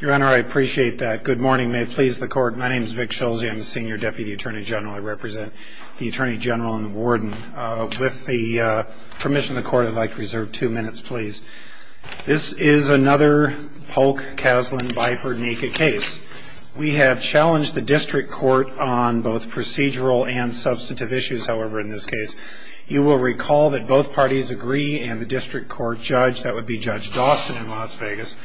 Your Honor, I appreciate that. Good morning. May it please the Court. My name is Vic Schulze. I'm the Senior Deputy Attorney General. I represent the Attorney General and the Warden. With the permission of the Court, I'd like to reserve two minutes, please. This is another Polk-Kaslan-Biefer naked case. We have challenged the District Court on both procedural and substantive issues, however, in this case. You will recall that both parties agree, and the District Court judge, that would be Judge Dawson in Las Vegas,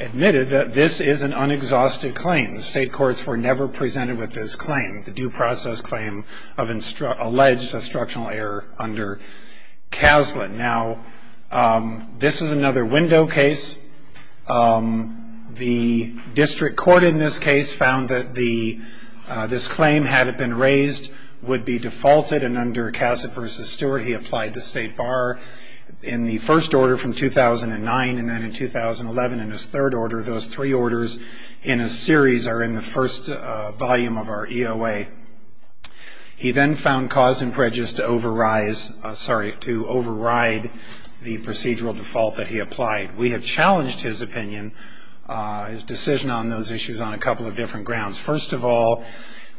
admitted that this is an unexhausted claim. The State Courts were never presented with this claim, the due process claim of alleged instructional error under Kaslan. Now, this is another window case. The District Court in this case found that this claim, had it been raised, would be defaulted, and under Kaslan v. Stewart, he applied the State Bar in the first order from 2009, and then in 2011 in his third order, those three orders in a series are in the first volume of our EOA. He then found cause and prejudice to override the procedural default that he applied. We have challenged his opinion, his decision on those issues, on a couple of different grounds. First of all,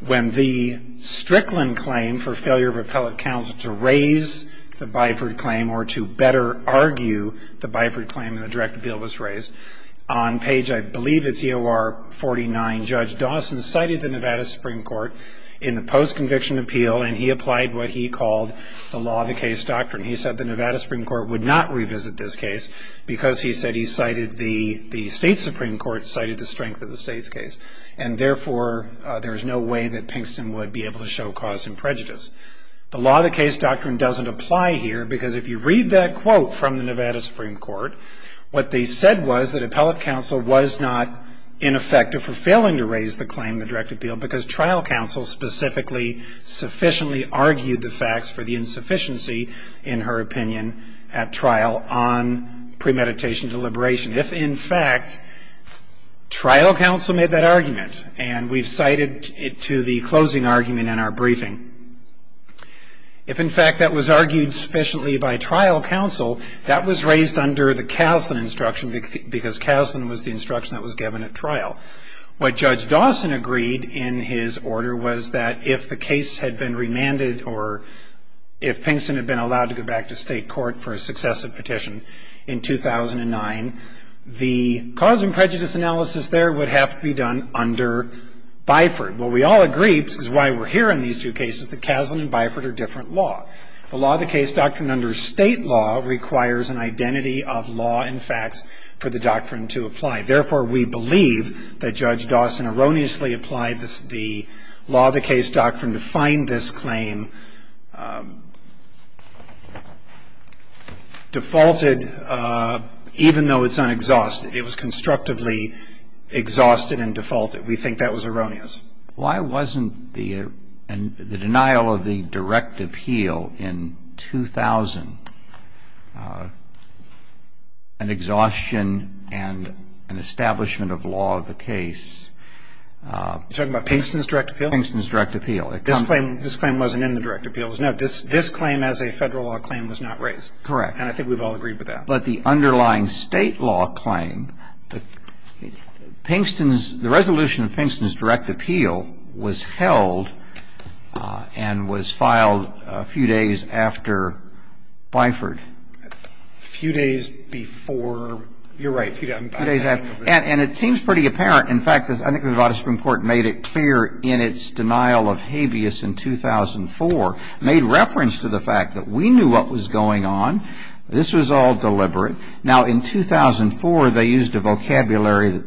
when the Strickland claim for failure of appellate counsel to raise the Byford claim, or to better argue the Byford claim in the direct appeal was raised, on page, I believe it's EOR 49, Judge Dawson cited the Nevada Supreme Court in the post-conviction appeal, and he applied what he called the law of the case doctrine. He said the Nevada Supreme Court would not revisit this case, because he said he cited the State Supreme Court cited the strength of the State's case. And therefore, there is no way that Pinkston would be able to show cause and prejudice. The law of the case doctrine doesn't apply here, because if you read that quote from the Nevada Supreme Court, what they said was that appellate counsel was not ineffective for failing to raise the claim in the direct appeal, because trial counsel specifically sufficiently argued the facts for the insufficiency, in her opinion, at trial on premeditation deliberation. If, in fact, trial counsel made that argument, and we've cited it to the closing argument in our briefing, if, in fact, that was argued sufficiently by trial counsel, that was raised under the Caslen instruction, because Caslen was the instruction that was given at trial. What Judge Dawson agreed in his order was that if the case had been remanded, or if Pinkston had been allowed to go back to State court for a successive petition in 2009, the cause and prejudice analysis there would have to be done under Byford. Well, we all agree, which is why we're here in these two cases, that Caslen and Byford are different law. The law of the case doctrine under State law requires an identity of law and facts for the doctrine to apply. Therefore, we believe that Judge Dawson erroneously applied the law of the case doctrine to find this claim defaulted, even though it's unexhausted. It was constructively exhausted and defaulted. We think that was erroneous. Why wasn't the denial of the direct appeal in 2000 an exhaustion and an establishment of law of the case? You're talking about Pinkston's direct appeal? Pinkston's direct appeal. This claim wasn't in the direct appeal. No, this claim as a Federal law claim was not raised. Correct. And I think we've all agreed with that. But the underlying State law claim, Pinkston's, the resolution of Pinkston's direct appeal was held and was filed a few days after Byford. A few days before, you're right, a few days after. And it seems pretty apparent. In fact, I think the Nevada Supreme Court made it clear in its denial of habeas in 2004, made reference to the fact that we knew what was going on. This was all deliberate. Now, in 2004, they used a vocabulary that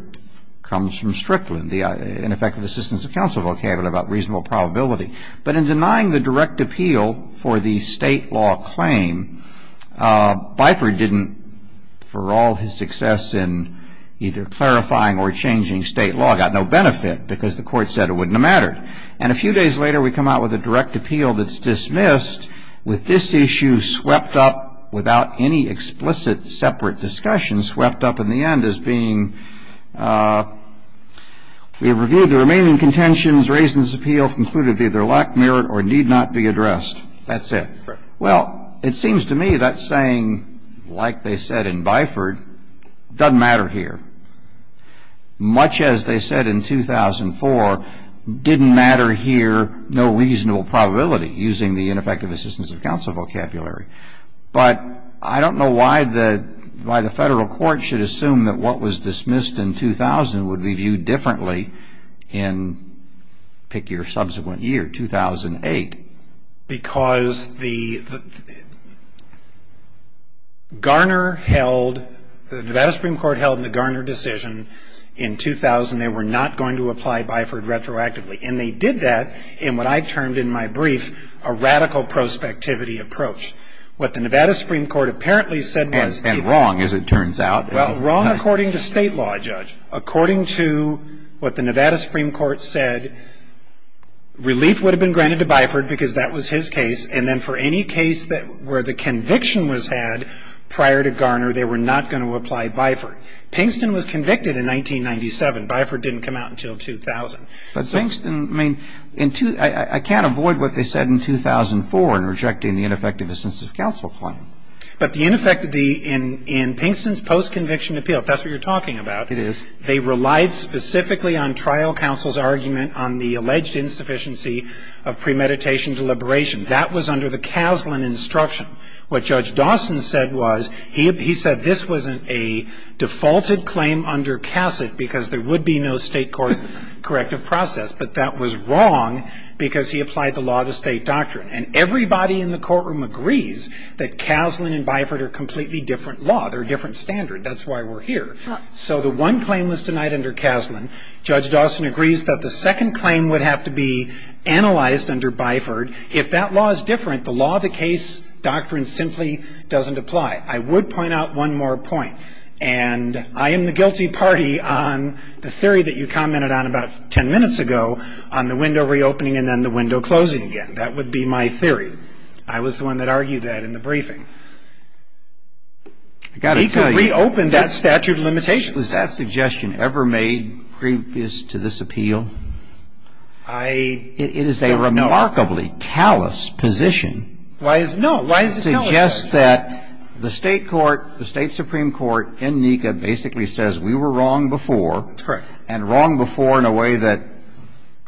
comes from Strickland, the ineffective assistance of counsel vocabulary about reasonable probability. But in denying the direct appeal for the State law claim, Byford didn't, for all his success in either clarifying or changing State law, got no benefit because the court said it wouldn't have mattered. And a few days later, we come out with a direct appeal that's dismissed with this issue swept up without any explicit separate discussion, swept up in the end as being, we've reviewed the remaining contentions, raised this appeal, concluded they either lack merit or need not be addressed. That's it. Correct. Well, it seems to me that saying, like they said in Byford, doesn't matter here. Much as they said in 2004, didn't matter here, no reasonable probability, using the ineffective assistance of counsel vocabulary. But I don't know why the Federal Court should assume that what was dismissed in 2000 would be viewed differently in, pick your subsequent year, 2008. Because the Garner held, the Nevada Supreme Court held in the Garner decision in 2000, they were not going to apply Byford retroactively. And they did that in what I termed in my brief, a radical prospectivity approach. What the Nevada Supreme Court apparently said was. And wrong, as it turns out. Well, wrong according to State law, Judge. According to what the Nevada Supreme Court said, relief would have been granted to Byford because that was his case. And then for any case where the conviction was had prior to Garner, they were not going to apply Byford. Pinkston was convicted in 1997. Byford didn't come out until 2000. But Pinkston, I mean, I can't avoid what they said in 2004 in rejecting the ineffective assistance of counsel claim. But the ineffective, in Pinkston's post-conviction appeal, if that's what you're talking about. It is. They relied specifically on trial counsel's argument on the alleged insufficiency of premeditation deliberation. That was under the Caslen instruction. What Judge Dawson said was, he said this wasn't a defaulted claim under Cassett because there would be no State court corrective process. But that was wrong because he applied the law of the State doctrine. And everybody in the courtroom agrees that Caslen and Byford are completely different law. They're a different standard. That's why we're here. So the one claim was denied under Caslen. Judge Dawson agrees that the second claim would have to be analyzed under Byford. If that law is different, the law of the case doctrine simply doesn't apply. I would point out one more point. And I am the guilty party on the theory that you commented on about ten minutes ago on the window reopening and then the window closing again. That would be my theory. I was the one that argued that in the briefing. I've got to tell you. NECA reopened that statute of limitations. Was that suggestion ever made previous to this appeal? I don't know. It is a remarkably callous position. Why is it no? Why is it callous? It suggests that the State court, the State supreme court in NECA basically says we were wrong before. That's correct. And wrong before in a way that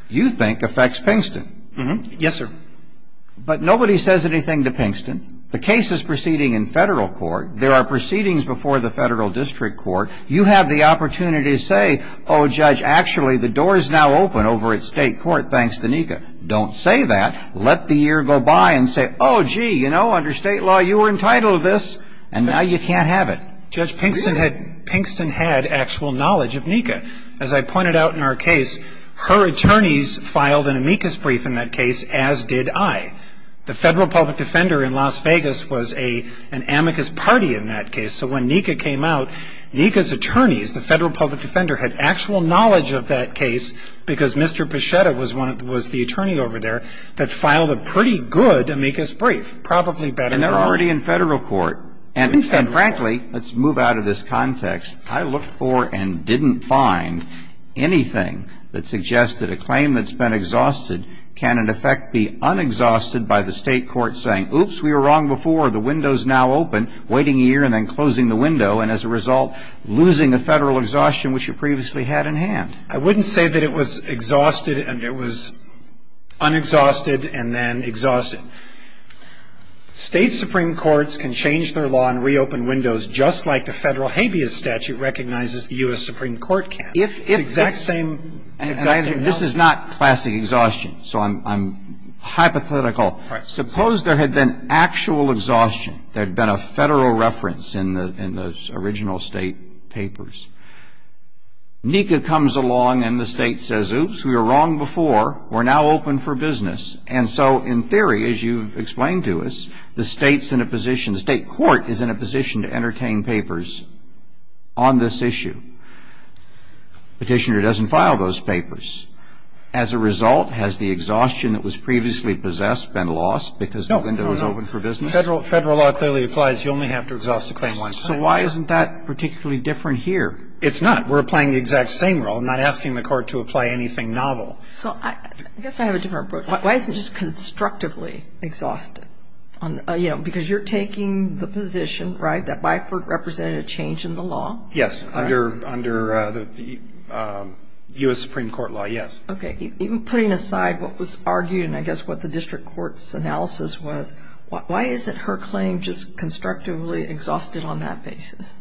you think affects Pinkston. Yes, sir. But nobody says anything to Pinkston. The case is proceeding in Federal court. There are proceedings before the Federal district court. You have the opportunity to say, oh, Judge, actually the door is now open over at State court thanks to NECA. Don't say that. Let the year go by and say, oh, gee, you know, under State law you were entitled to this. And now you can't have it. Judge, Pinkston had actual knowledge of NECA. As I pointed out in our case, her attorneys filed an amicus brief in that case, as did I. The Federal public defender in Las Vegas was an amicus party in that case. So when NECA came out, NECA's attorneys, the Federal public defender, had actual knowledge of that case because Mr. Pichetta was the attorney over there that filed a pretty good amicus brief, probably better than ours. And they're already in Federal court. In Federal. And frankly, let's move out of this context. I looked for and didn't find anything that suggested a claim that's been exhausted can, in effect, be unexhausted by the State court saying, oops, we were wrong before, the window's now open, waiting a year and then closing the window, and as a result losing the Federal exhaustion, which it previously had in hand. I wouldn't say that it was exhausted and it was unexhausted and then exhausted. State Supreme Courts can change their law and reopen windows just like the Federal habeas statute recognizes the U.S. Supreme Court can. It's the exact same. And this is not classic exhaustion. So I'm hypothetical. Suppose there had been actual exhaustion, there had been a Federal reference in the original State papers. NECA comes along and the State says, oops, we were wrong before, we're now open for business. And so in theory, as you've explained to us, the State's in a position, the State court is in a position to entertain papers on this issue. Petitioner doesn't file those papers. As a result, has the exhaustion that was previously possessed been lost because the window is open for business? No, no, no. Federal law clearly applies. You only have to exhaust a claim once. So why isn't that particularly different here? It's not. We're playing the exact same role, not asking the court to apply anything novel. So I guess I have a different point. Why isn't it just constructively exhausted? You know, because you're taking the position, right, that Byford represented a change in the law. Yes, under the U.S. Supreme Court law, yes. Okay. Even putting aside what was argued and I guess what the district court's analysis was, why isn't her claim just constructively exhausted on that basis?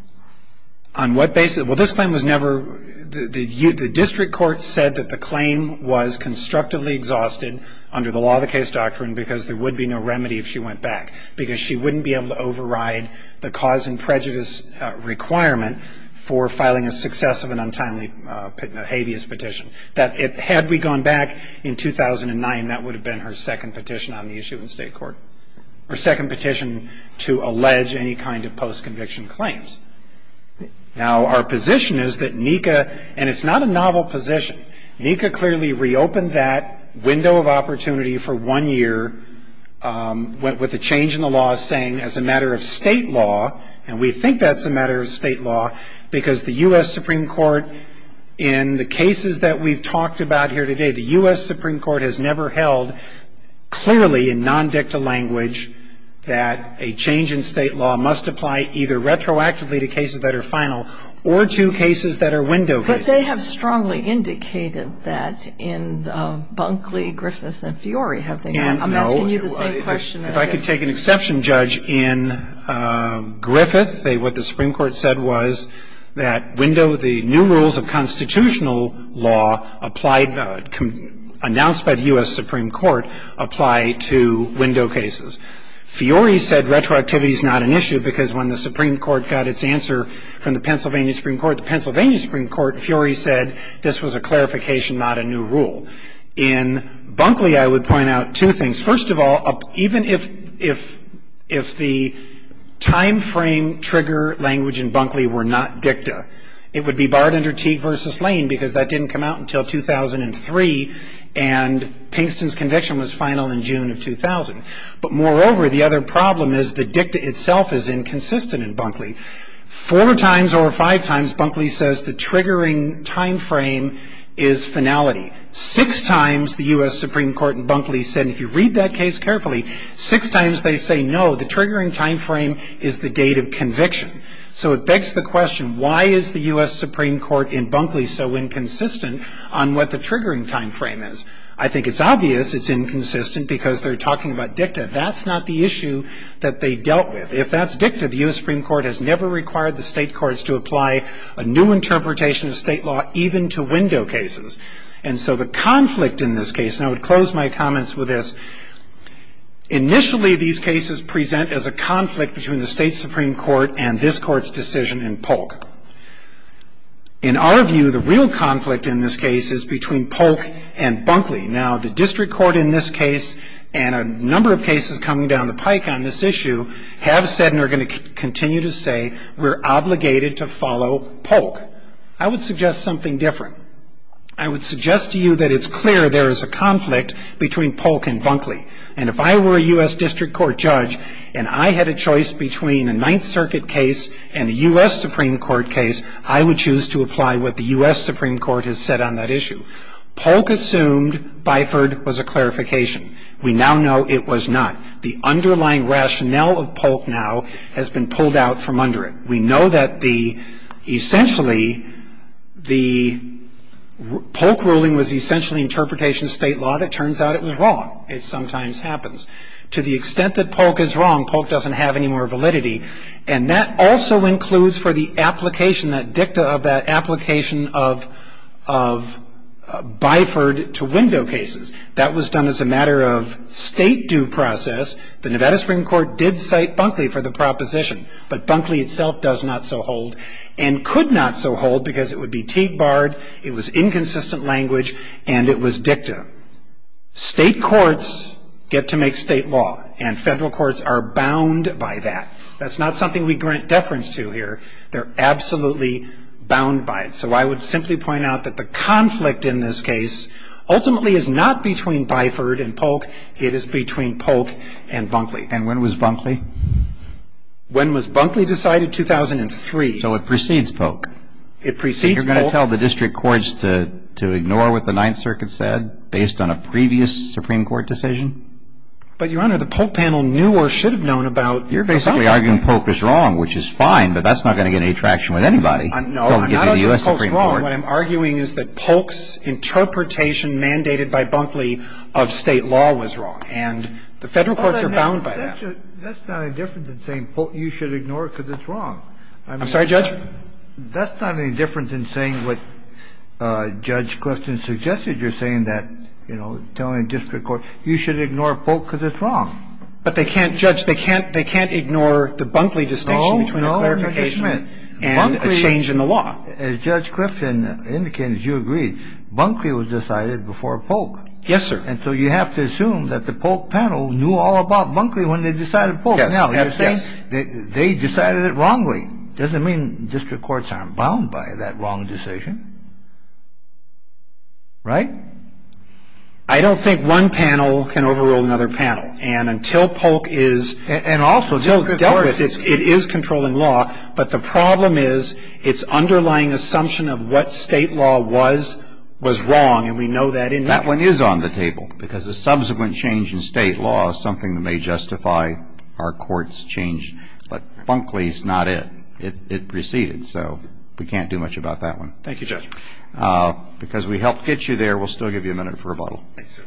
On what basis? Well, this claim was never the district court said that the claim was constructively exhausted under the law of the case doctrine because there would be no remedy if she went back because she wouldn't be able to override the cause and prejudice requirement for filing a successive and untimely habeas petition. Had we gone back in 2009, that would have been her second petition on the issue in state court, her second petition to allege any kind of post-conviction claims. Now, our position is that NECA, and it's not a novel position, NECA clearly reopened that window of opportunity for one year with a change in the law saying, as a matter of state law, and we think that's a matter of state law, because the U.S. Supreme Court in the cases that we've talked about here today, the U.S. Supreme Court has never held clearly in non-dicta language that a change in state law must apply either retroactively to cases that are final or to cases that are window cases. But they have strongly indicated that in Bunkley, Griffith, and Fiore, have they? No. I'm asking you the same question. If I could take an exception, Judge, in Griffith, what the Supreme Court said was that the new rules of constitutional law announced by the U.S. Supreme Court apply to window cases. Fiore said retroactivity is not an issue, because when the Supreme Court got its answer from the Pennsylvania Supreme Court, the Pennsylvania Supreme Court, Fiore said this was a clarification, not a new rule. In Bunkley, I would point out two things. First of all, even if the timeframe trigger language in Bunkley were not dicta, it would be barred under Teague v. Lane, because that didn't come out until 2003, and Pinkston's conviction was final in June of 2000. But moreover, the other problem is the dicta itself is inconsistent in Bunkley. Four times or five times, Bunkley says the triggering timeframe is finality. Six times, the U.S. Supreme Court in Bunkley said, and if you read that case carefully, six times they say no, the triggering timeframe is the date of conviction. So it begs the question, why is the U.S. Supreme Court in Bunkley so inconsistent on what the triggering timeframe is? I think it's obvious it's inconsistent because they're talking about dicta. That's not the issue that they dealt with. If that's dicta, the U.S. Supreme Court has never required the State courts to apply a new interpretation of State law even to window cases. And so the conflict in this case, and I would close my comments with this, initially these cases present as a conflict between the State Supreme Court and this Court's decision in Polk. In our view, the real conflict in this case is between Polk and Bunkley. Now, the District Court in this case and a number of cases coming down the pike on this issue have said and are going to continue to say we're obligated to follow Polk. I would suggest something different. I would suggest to you that it's clear there is a conflict between Polk and Bunkley. And if I were a U.S. District Court judge and I had a choice between a Ninth Circuit case and a U.S. Supreme Court case, I would choose to apply what the U.S. Supreme Court has said on that issue. Polk assumed Byford was a clarification. We now know it was not. The underlying rationale of Polk now has been pulled out from under it. We know that essentially the Polk ruling was essentially interpretation of State law. It turns out it was wrong. It sometimes happens. To the extent that Polk is wrong, Polk doesn't have any more validity. And that also includes for the application, that dicta of that application of Byford to window cases. That was done as a matter of State due process. The Nevada Supreme Court did cite Bunkley for the proposition, but Bunkley itself does not so hold and could not so hold because it would be tape barred, it was inconsistent language, and it was dicta. State courts get to make State law and Federal courts are bound by that. That's not something we grant deference to here. They're absolutely bound by it. So I would simply point out that the conflict in this case ultimately is not between Byford and Polk. It is between Polk and Bunkley. And when was Bunkley? When was Bunkley decided? 2003. So it precedes Polk. It precedes Polk. So you're going to tell the district courts to ignore what the Ninth Circuit said based on a previous Supreme Court decision? But, Your Honor, the Polk panel knew or should have known about the subject. You're basically arguing Polk is wrong, which is fine, but that's not going to get any traction with anybody. No, I'm not arguing Polk is wrong. What I'm arguing is that Polk's interpretation mandated by Bunkley of State law was wrong. And the Federal courts are bound by that. That's not any different than saying you should ignore it because it's wrong. I'm sorry, Judge? That's not any different than saying what Judge Clifton suggested. You're saying that, you know, telling district courts you should ignore Polk because it's wrong. But they can't, Judge, they can't ignore the Bunkley distinction between a clarification and a change in the law. As Judge Clifton indicated, you agreed, Bunkley was decided before Polk. Yes, sir. And so you have to assume that the Polk panel knew all about Bunkley when they decided Polk. Yes, yes. Now, you're saying they decided it wrongly. Doesn't mean district courts aren't bound by that wrong decision, right? I don't think one panel can overrule another panel. And until Polk is, and also until it's dealt with, it is controlling law. But the problem is its underlying assumption of what State law was was wrong, and we know that in there. That one is on the table because a subsequent change in State law is something that may justify our court's change. But Bunkley is not it. It preceded. So we can't do much about that one. Thank you, Judge. Because we helped get you there, we'll still give you a minute for rebuttal. Thank you, sir.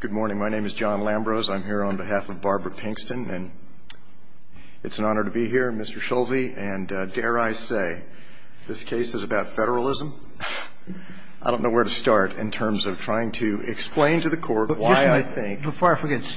Good morning. My name is John Lambrose. I'm here on behalf of Barbara Pinkston. And it's an honor to be here, Mr. Schulze. And I think that the argument that Mr. Polk cited in the argument against Ms. Babb and Ms.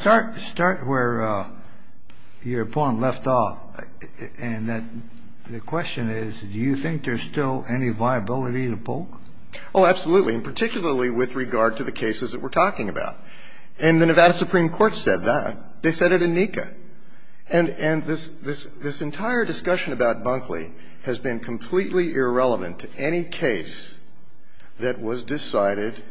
Babb-Bunkley has been completely irrelevant to any case that was decided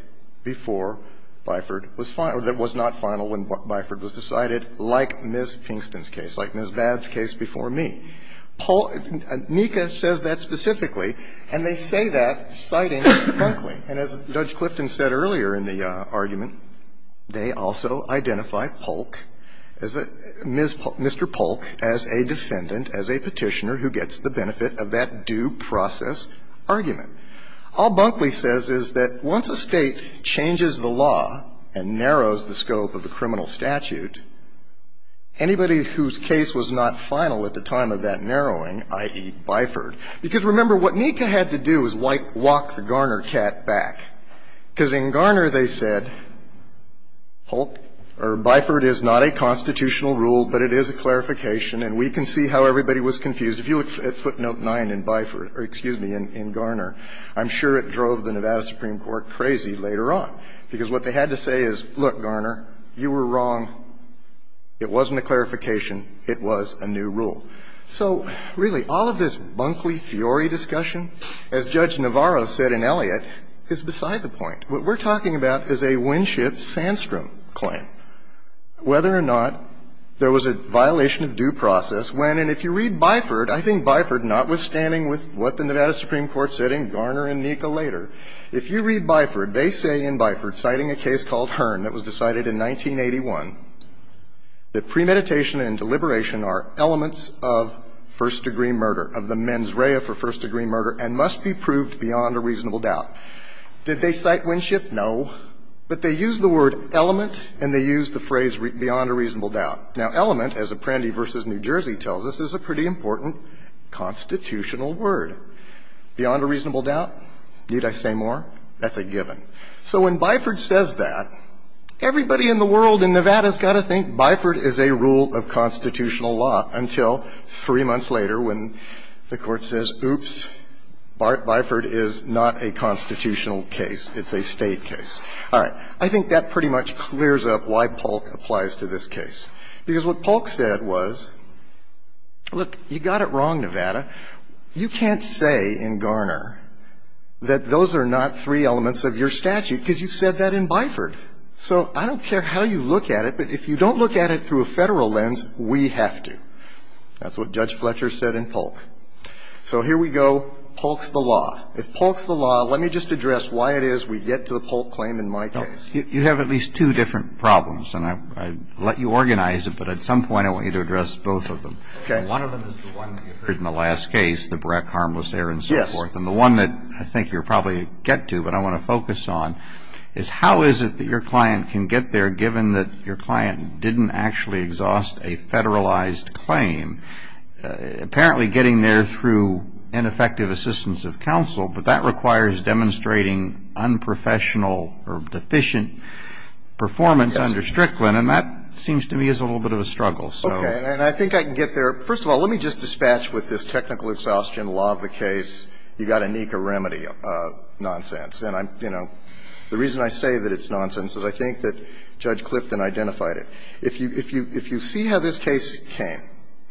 before Byford was final or that was not final when Byford was decided, like Ms. Pinkston's case, like Ms. Babb's case before me. NICA says that specifically, and they say that citing Bunkley. And as Judge Clifton said earlier in the argument, they also identify Polk, Mr. Polk, as a defendant, as a Petitioner who gets the benefit of that due process argument. All Bunkley says is that once a State changes the law and narrows the scope of a criminal statute, anybody whose case was not final at the time of that narrowing, i.e., Byford. Because, remember, what NICA had to do was walk the Garner cat back. Because in Garner, they said, Polk, or Byford is not a constitutional rule, but it is a clarification, and we can see how everybody was confused. If you look at footnote 9 in Byford or, excuse me, in Garner, I'm sure it drove the Nevada Supreme Court crazy later on. Because what they had to say is, look, Garner, you were wrong, it wasn't a clarification, it was a new rule. So, really, all of this Bunkley-Fiori discussion, as Judge Navarro said in Elliott, is beside the point. What we're talking about is a Winship-Sandstrom claim. Whether or not there was a violation of due process, when, and if you read Byford, I think Byford, notwithstanding with what the Nevada Supreme Court said in Garner and NICA later, if you read Byford, they say in Byford, citing a case called Hearn that was decided in 1981, that premeditation and deliberation are elements of first-degree murder, of the mens rea for first-degree murder, and must be proved beyond a reasonable doubt. Did they cite Winship? No. But they used the word element, and they used the phrase beyond a reasonable doubt. Now, element, as Apprendi v. New Jersey tells us, is a pretty important constitutional word. Beyond a reasonable doubt? Need I say more? That's a given. So when Byford says that, everybody in the world in Nevada has got to think Byford is a rule of constitutional law, until three months later when the Court says, oops, Byford is not a constitutional case, it's a State case. All right. I think that pretty much clears up why Polk applies to this case, because what Polk said was, look, you got it wrong, Nevada, you can't say in Garner that those are not three elements of your statute, because you've said that in Byford. So I don't care how you look at it, but if you don't look at it through a Federal lens, we have to. That's what Judge Fletcher said in Polk. So here we go. Polk's the law. If Polk's the law, let me just address why it is we get to the Polk claim in my case. You have at least two different problems, and I'll let you organize it, but at some point I want you to address both of them. Okay. One of them is the one that you heard in the last case, the Breck harmless error and so forth. Yes. And the one that I think you'll probably get to, but I want to focus on, is how is it that your client can get there, given that your client didn't actually exhaust a Federalized claim, apparently getting there through ineffective assistance of counsel, but that requires demonstrating unprofessional or deficient performance under Strickland, and that seems to me is a little bit of a struggle. Okay, and I think I can get there. First of all, let me just dispatch with this technical exhaustion law of the case. You've got to neek a remedy nonsense, and I'm, you know, the reason I say that it's nonsense is I think that Judge Clifton identified it. If you see how this case came,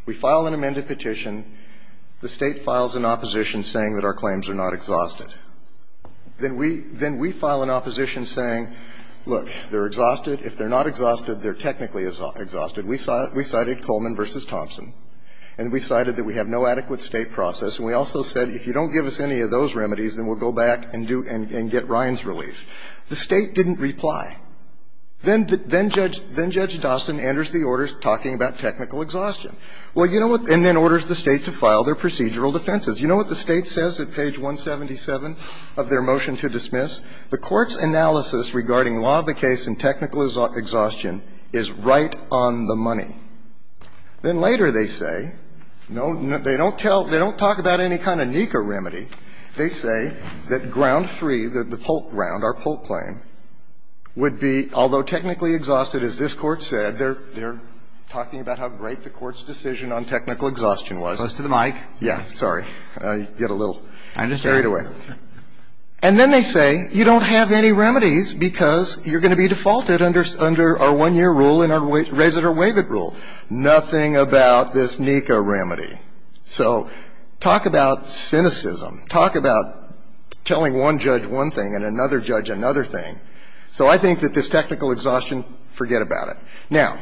we file an amended petition, the State files an opposition saying that our claims are not exhausted. Then we file an opposition saying, look, they're exhausted. If they're not exhausted, they're technically exhausted. We cited Coleman v. Thompson, and we cited that we have no adequate State process. And we also said, if you don't give us any of those remedies, then we'll go back and do and get Ryan's relief. The State didn't reply. Then Judge Dawson enters the orders talking about technical exhaustion. Well, you know what? And then orders the State to file their procedural defenses. You know what the State says at page 177 of their motion to dismiss? The Court's analysis regarding law of the case and technical exhaustion is right on the money. Then later they say, no, they don't tell they don't talk about any kind of NECA remedy. They say that ground three, the Polk round, our Polk claim, would be, although technically exhausted, as this Court said, they're talking about how great the Court's decision on technical exhaustion was. Roberts, to the mic. Yeah, sorry. I get a little carried away. And then they say, you don't have any remedies because you're going to be defaulted under our one-year rule and our raise it or waive it rule. Nothing about this NECA remedy. So talk about cynicism. Talk about telling one judge one thing and another judge another thing. So I think that this technical exhaustion, forget about it. Now,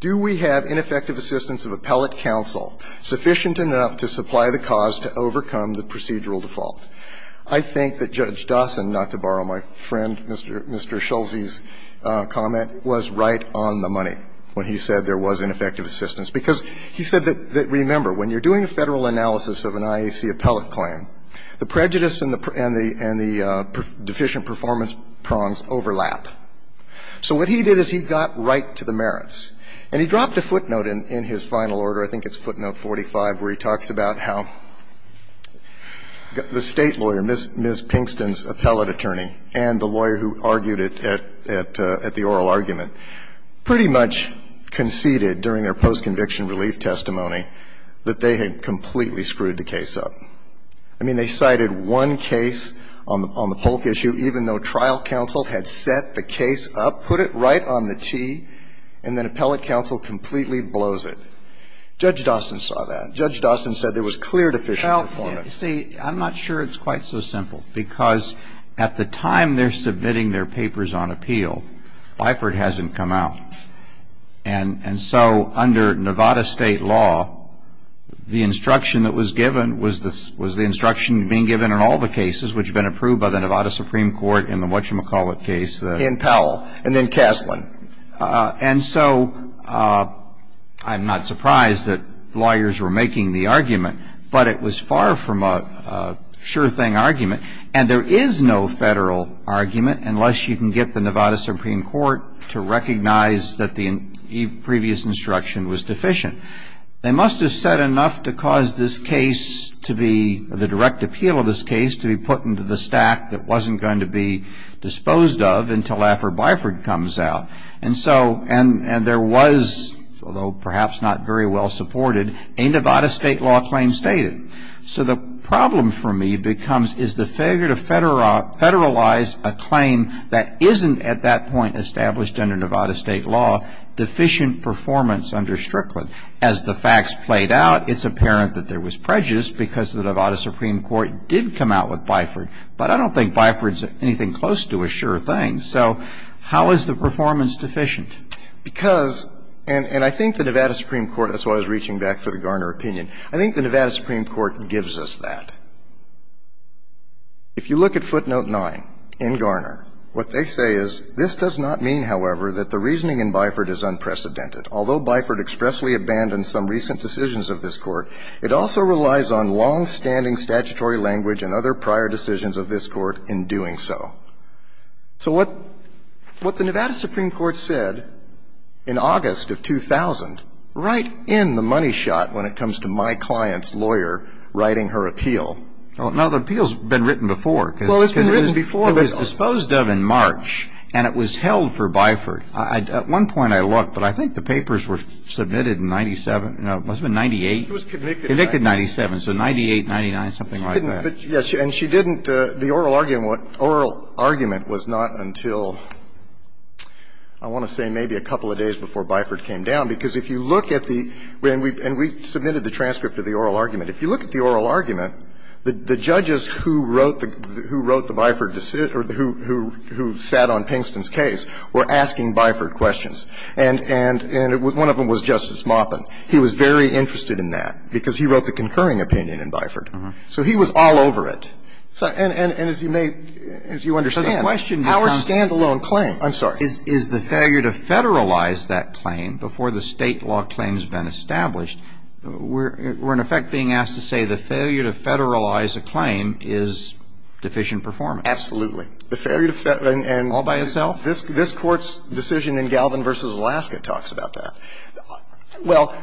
do we have ineffective assistance of appellate counsel sufficient enough to supply the cause to overcome the procedural default? I think that Judge Dawson, not to borrow my friend Mr. Schultz's comment, was right on the money when he said there was ineffective assistance, because he said that, remember, when you're doing a Federal analysis of an IAC appellate claim, the prejudice and the deficient performance prongs overlap. So what he did is he got right to the merits. And he dropped a footnote in his final order, I think it's footnote 45, where he talks about how the State lawyer, Ms. Pinkston's appellate attorney, and the lawyer who argued it at the oral argument, pretty much conceded during their post-conviction relief testimony that they had completely screwed the case up. I mean, they cited one case on the Polk issue, even though trial counsel had set the case up, put it right on the tee, and then appellate counsel completely blows it. Judge Dawson saw that. Judge Dawson said there was clear deficient performance. Well, see, I'm not sure it's quite so simple, because at the time they're submitting their papers on appeal, Bifert hasn't come out. And so under Nevada State law, the instruction that was given was the instruction being given in all the cases which had been approved by the Nevada Supreme Court in the Whatchamacallit case. In Powell, and then Castlin. And so I'm not surprised that lawyers were making the argument. But it was far from a sure thing argument. And there is no federal argument, unless you can get the Nevada Supreme Court to recognize that the previous instruction was deficient. They must have said enough to cause this case to be, the direct appeal of this case, to be put into the stack that wasn't going to be disposed of until after Bifert comes out. And so, and there was, although perhaps not very well supported, a Nevada State law claim stated. So the problem for me becomes, is the failure to federalize a claim that isn't at that point established under Nevada State law, deficient performance under Strickland? As the facts played out, it's apparent that there was prejudice because the Nevada Supreme Court did come out with Bifert. But I don't think Bifert's anything close to a sure thing. So how is the performance deficient? Because, and I think the Nevada Supreme Court, that's why I was reaching back for the Garner opinion, I think the Nevada Supreme Court gives us that. If you look at footnote 9 in Garner, what they say is, This does not mean, however, that the reasoning in Bifert is unprecedented. Although Bifert expressly abandoned some recent decisions of this Court, it also relies on longstanding statutory language and other prior decisions of this Court in doing so. So what the Nevada Supreme Court said in August of 2000, right in the money shot when it comes to my client's lawyer writing her appeal. Now, the appeal's been written before. Well, it's been written before. It was disposed of in March, and it was held for Bifert. At one point I looked, but I think the papers were submitted in 97, no, it must have been 98. It was convicted. Convicted in 97, so 98, 99, something like that. But, yes, and she didn't the oral argument was not until, I want to say maybe a couple of days before Bifert came down, because if you look at the, and we submitted the transcript of the oral argument. If you look at the oral argument, the judges who wrote the Bifert, who sat on Pinkston's case were asking Bifert questions. And one of them was Justice Maupin. He was very interested in that, because he wrote the concurring opinion in Bifert. So he was all over it. And as you may, as you understand, our stand-alone claim, I'm sorry, is the failure to federalize that claim before the State law claim has been established. We're in effect being asked to say the failure to federalize a claim is deficient performance. Absolutely. The failure to federalize. All by itself? This Court's decision in Galvin v. Alaska talks about that. Well,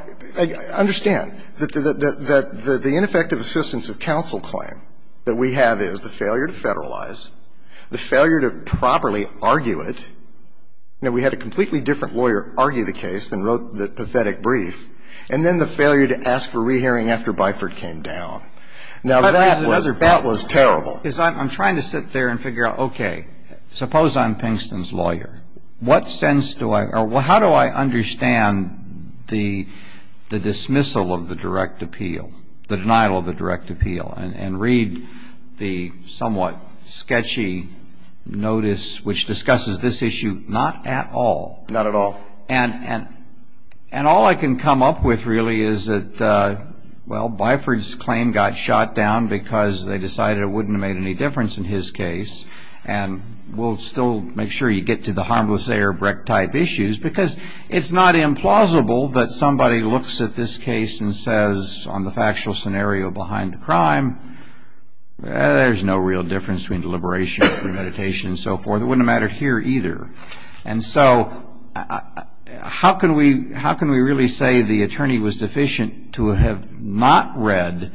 understand that the ineffective assistance of counsel claim that we have is the failure to federalize, the failure to properly argue it. Now, we had a completely different lawyer argue the case than wrote the pathetic brief, and then the failure to ask for rehearing after Bifert came down. Now, that was terrible. I'm trying to sit there and figure out, okay, suppose I'm Pinkston's lawyer. What sense do I, or how do I understand the dismissal of the direct appeal, the denial of the direct appeal, and read the somewhat sketchy notice which discusses this issue not at all? Not at all. And all I can come up with, really, is that, well, Bifert's claim got shot down because they decided it wouldn't have made any difference in his case, and we'll still make sure you get to the harmless airbreak-type issues, because it's not implausible that somebody looks at this case and says, on the factual scenario behind the crime, there's no real difference between deliberation, premeditation, and so forth. It wouldn't have mattered here, either. And so, how can we really say the attorney was deficient to have not read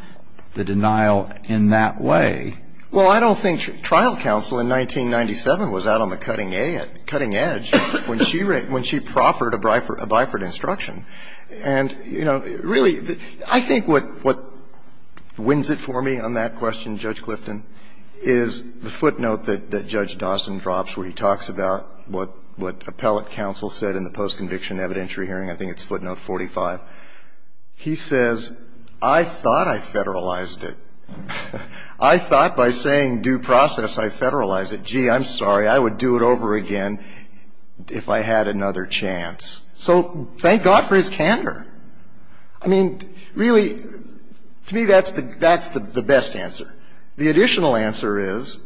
the denial in that way? Well, I don't think trial counsel in 1997 was out on the cutting edge when she proffered a Bifert instruction. And, you know, really, I think what wins it for me on that question, Judge Clifton, is the footnote that Judge Dawson drops where he talks about what appellate counsel said in the post-conviction evidentiary hearing, I think it's footnote 45. He says, I thought I federalized it. I thought by saying due process, I federalized it. Gee, I'm sorry. I would do it over again if I had another chance. So thank God for his candor. I mean, really, to me, that's the best answer. The additional answer is,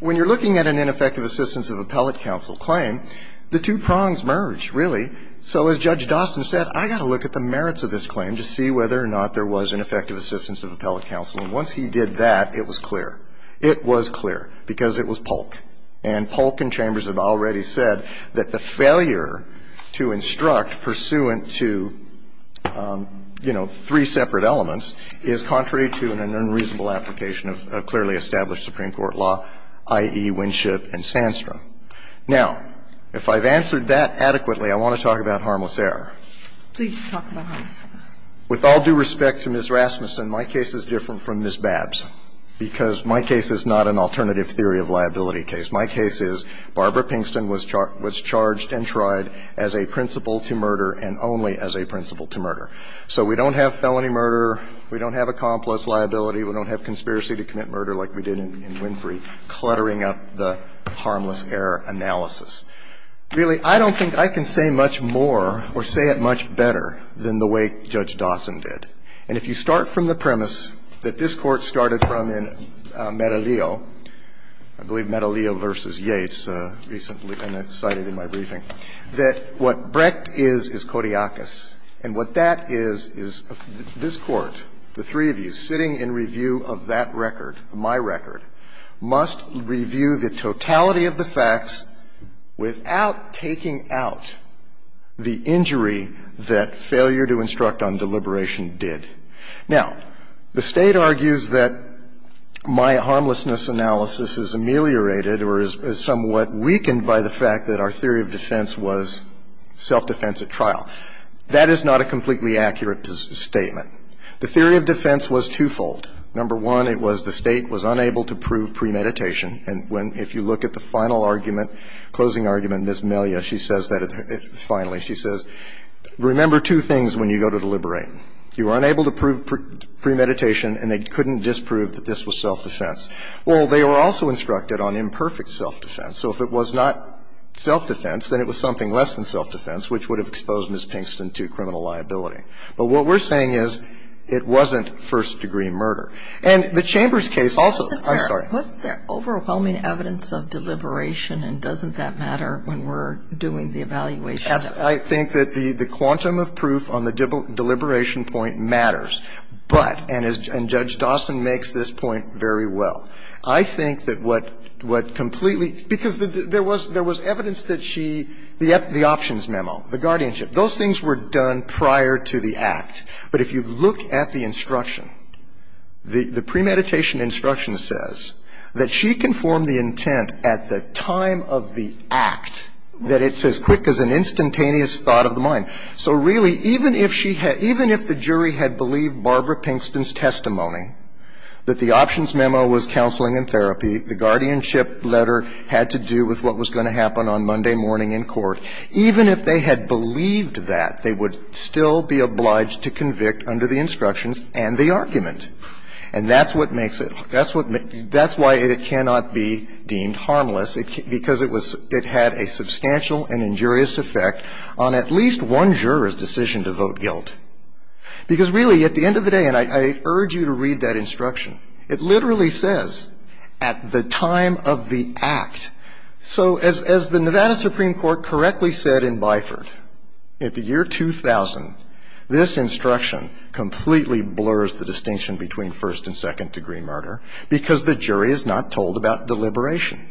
when you're looking at an ineffective assistance of appellate counsel claim, the two prongs merge, really. So as Judge Dawson said, I've got to look at the merits of this claim to see whether or not there was an effective assistance of appellate counsel. And once he did that, it was clear. It was clear, because it was Polk. And Polk and Chambers have already said that the failure to instruct pursuant to, you know, three separate elements is contrary to an unreasonable application of clearly established Supreme Court law, i.e., Winship and Sandstrom. Now, if I've answered that adequately, I want to talk about harmless error. Please talk about harmless error. With all due respect to Ms. Rasmussen, my case is different from Ms. Babs, because my case is not an alternative theory of liability case. My case is Barbara Pinkston was charged and tried as a principal to murder and only as a principal to murder. So we don't have felony murder. We don't have a complex liability. We don't have conspiracy to commit murder like we did in Winfrey, cluttering up the harmless error analysis. Really, I don't think I can say much more or say it much better than the way Judge Dawson did. And if you start from the premise that this Court started from in Medelio, I believe Medelio v. Yates recently cited in my briefing, that what Brecht is is codiacus. And what that is, is this Court, the three of you, sitting in review of that record, my record, must review the totality of the facts, the facts of the record, and then without taking out the injury that failure to instruct on deliberation did. Now, the State argues that my harmlessness analysis is ameliorated or is somewhat weakened by the fact that our theory of defense was self-defense at trial. That is not a completely accurate statement. The theory of defense was twofold. Number one, it was the State was unable to prove premeditation. And when, if you look at the final argument, closing argument, Ms. Melia, she says that, finally, she says, remember two things when you go to deliberate. You were unable to prove premeditation, and they couldn't disprove that this was self-defense. Well, they were also instructed on imperfect self-defense. So if it was not self-defense, then it was something less than self-defense, which would have exposed Ms. Pinkston to criminal liability. But what we're saying is it wasn't first-degree murder. And the Chambers case also, I'm sorry. What's the overwhelming evidence of deliberation, and doesn't that matter when we're doing the evaluation? I think that the quantum of proof on the deliberation point matters, but, and Judge Dawson makes this point very well, I think that what completely, because there was evidence that she, the options memo, the guardianship, those things were done prior to the act. But if you look at the instruction, the premeditation instruction says that she conformed the intent at the time of the act, that it's as quick as an instantaneous thought of the mind. So really, even if she had, even if the jury had believed Barbara Pinkston's testimony that the options memo was counseling and therapy, the guardianship letter had to do with what was going to happen on Monday morning in court, even if they had believed that, they would still be obliged to convict under the instructions and the argument. And that's what makes it, that's what, that's why it cannot be deemed harmless, because it was, it had a substantial and injurious effect on at least one juror's decision to vote guilt. Because really, at the end of the day, and I urge you to read that instruction, it literally says, at the time of the act. So as the Nevada Supreme Court correctly said in Byford, at the year 2000, this instruction completely blurs the distinction between first and second degree murder, because the jury is not told about deliberation.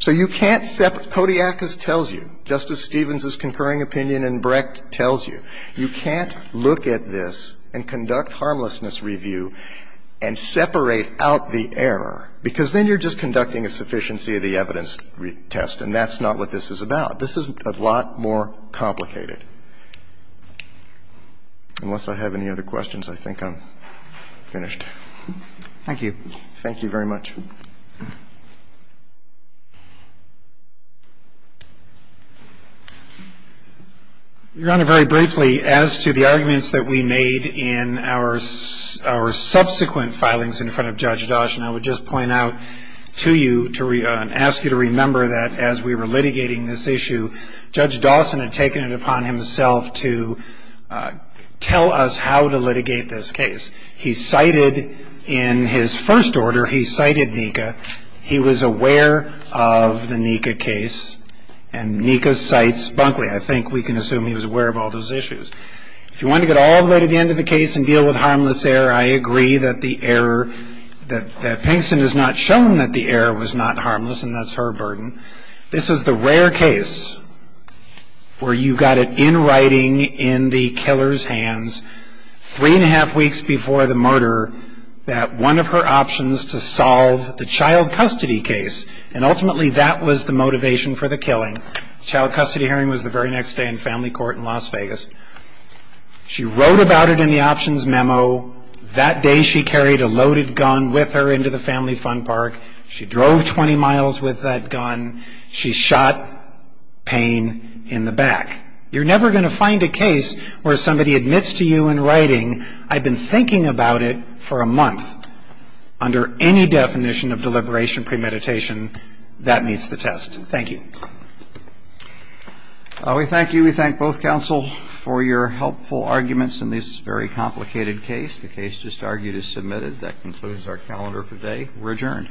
So you can't separate, Kodiakos tells you, Justice Stevens's concurring opinion in Brecht tells you, you can't look at this and conduct harmlessness review and separate out the error, because then you're just conducting a sufficiency of the evidence test, and that's not what this is about. This is a lot more complicated. Unless I have any other questions, I think I'm finished. Thank you. Thank you very much. Your Honor, very briefly, as to the arguments that we made in our, our subsequent filings in front of Judge Dosh, and I would just point out to you to, and ask you to remember that as we were litigating this issue, Judge Dawson had taken it upon himself to tell us how to litigate this case. He cited, in his first order, he cited Nika. He was aware of the Nika case, and Nika cites Bunkley. I think we can assume he was aware of all those issues. If you want to get all the way to the end of the case and deal with harmless error, I agree that the error, that, that Pinkston has not shown that the error was not harmless, and that's her burden. This is the rare case where you got it in writing, in the killer's hands, three and a half weeks before the murder, that one of her options to solve the child custody case, and ultimately that was the motivation for the killing. Child custody hearing was the very next day in family court in Las Vegas. She wrote about it in the options memo. That day she carried a loaded gun with her into the family fun park. She drove 20 miles with that gun. She shot Payne in the back. You're never going to find a case where somebody admits to you in writing, I've been thinking about it for a month. Under any definition of deliberation premeditation, that meets the test. Thank you. We thank you, we thank both counsel for your helpful arguments in this very complicated case. The case just argued is submitted. That concludes our calendar for today. We're adjourned.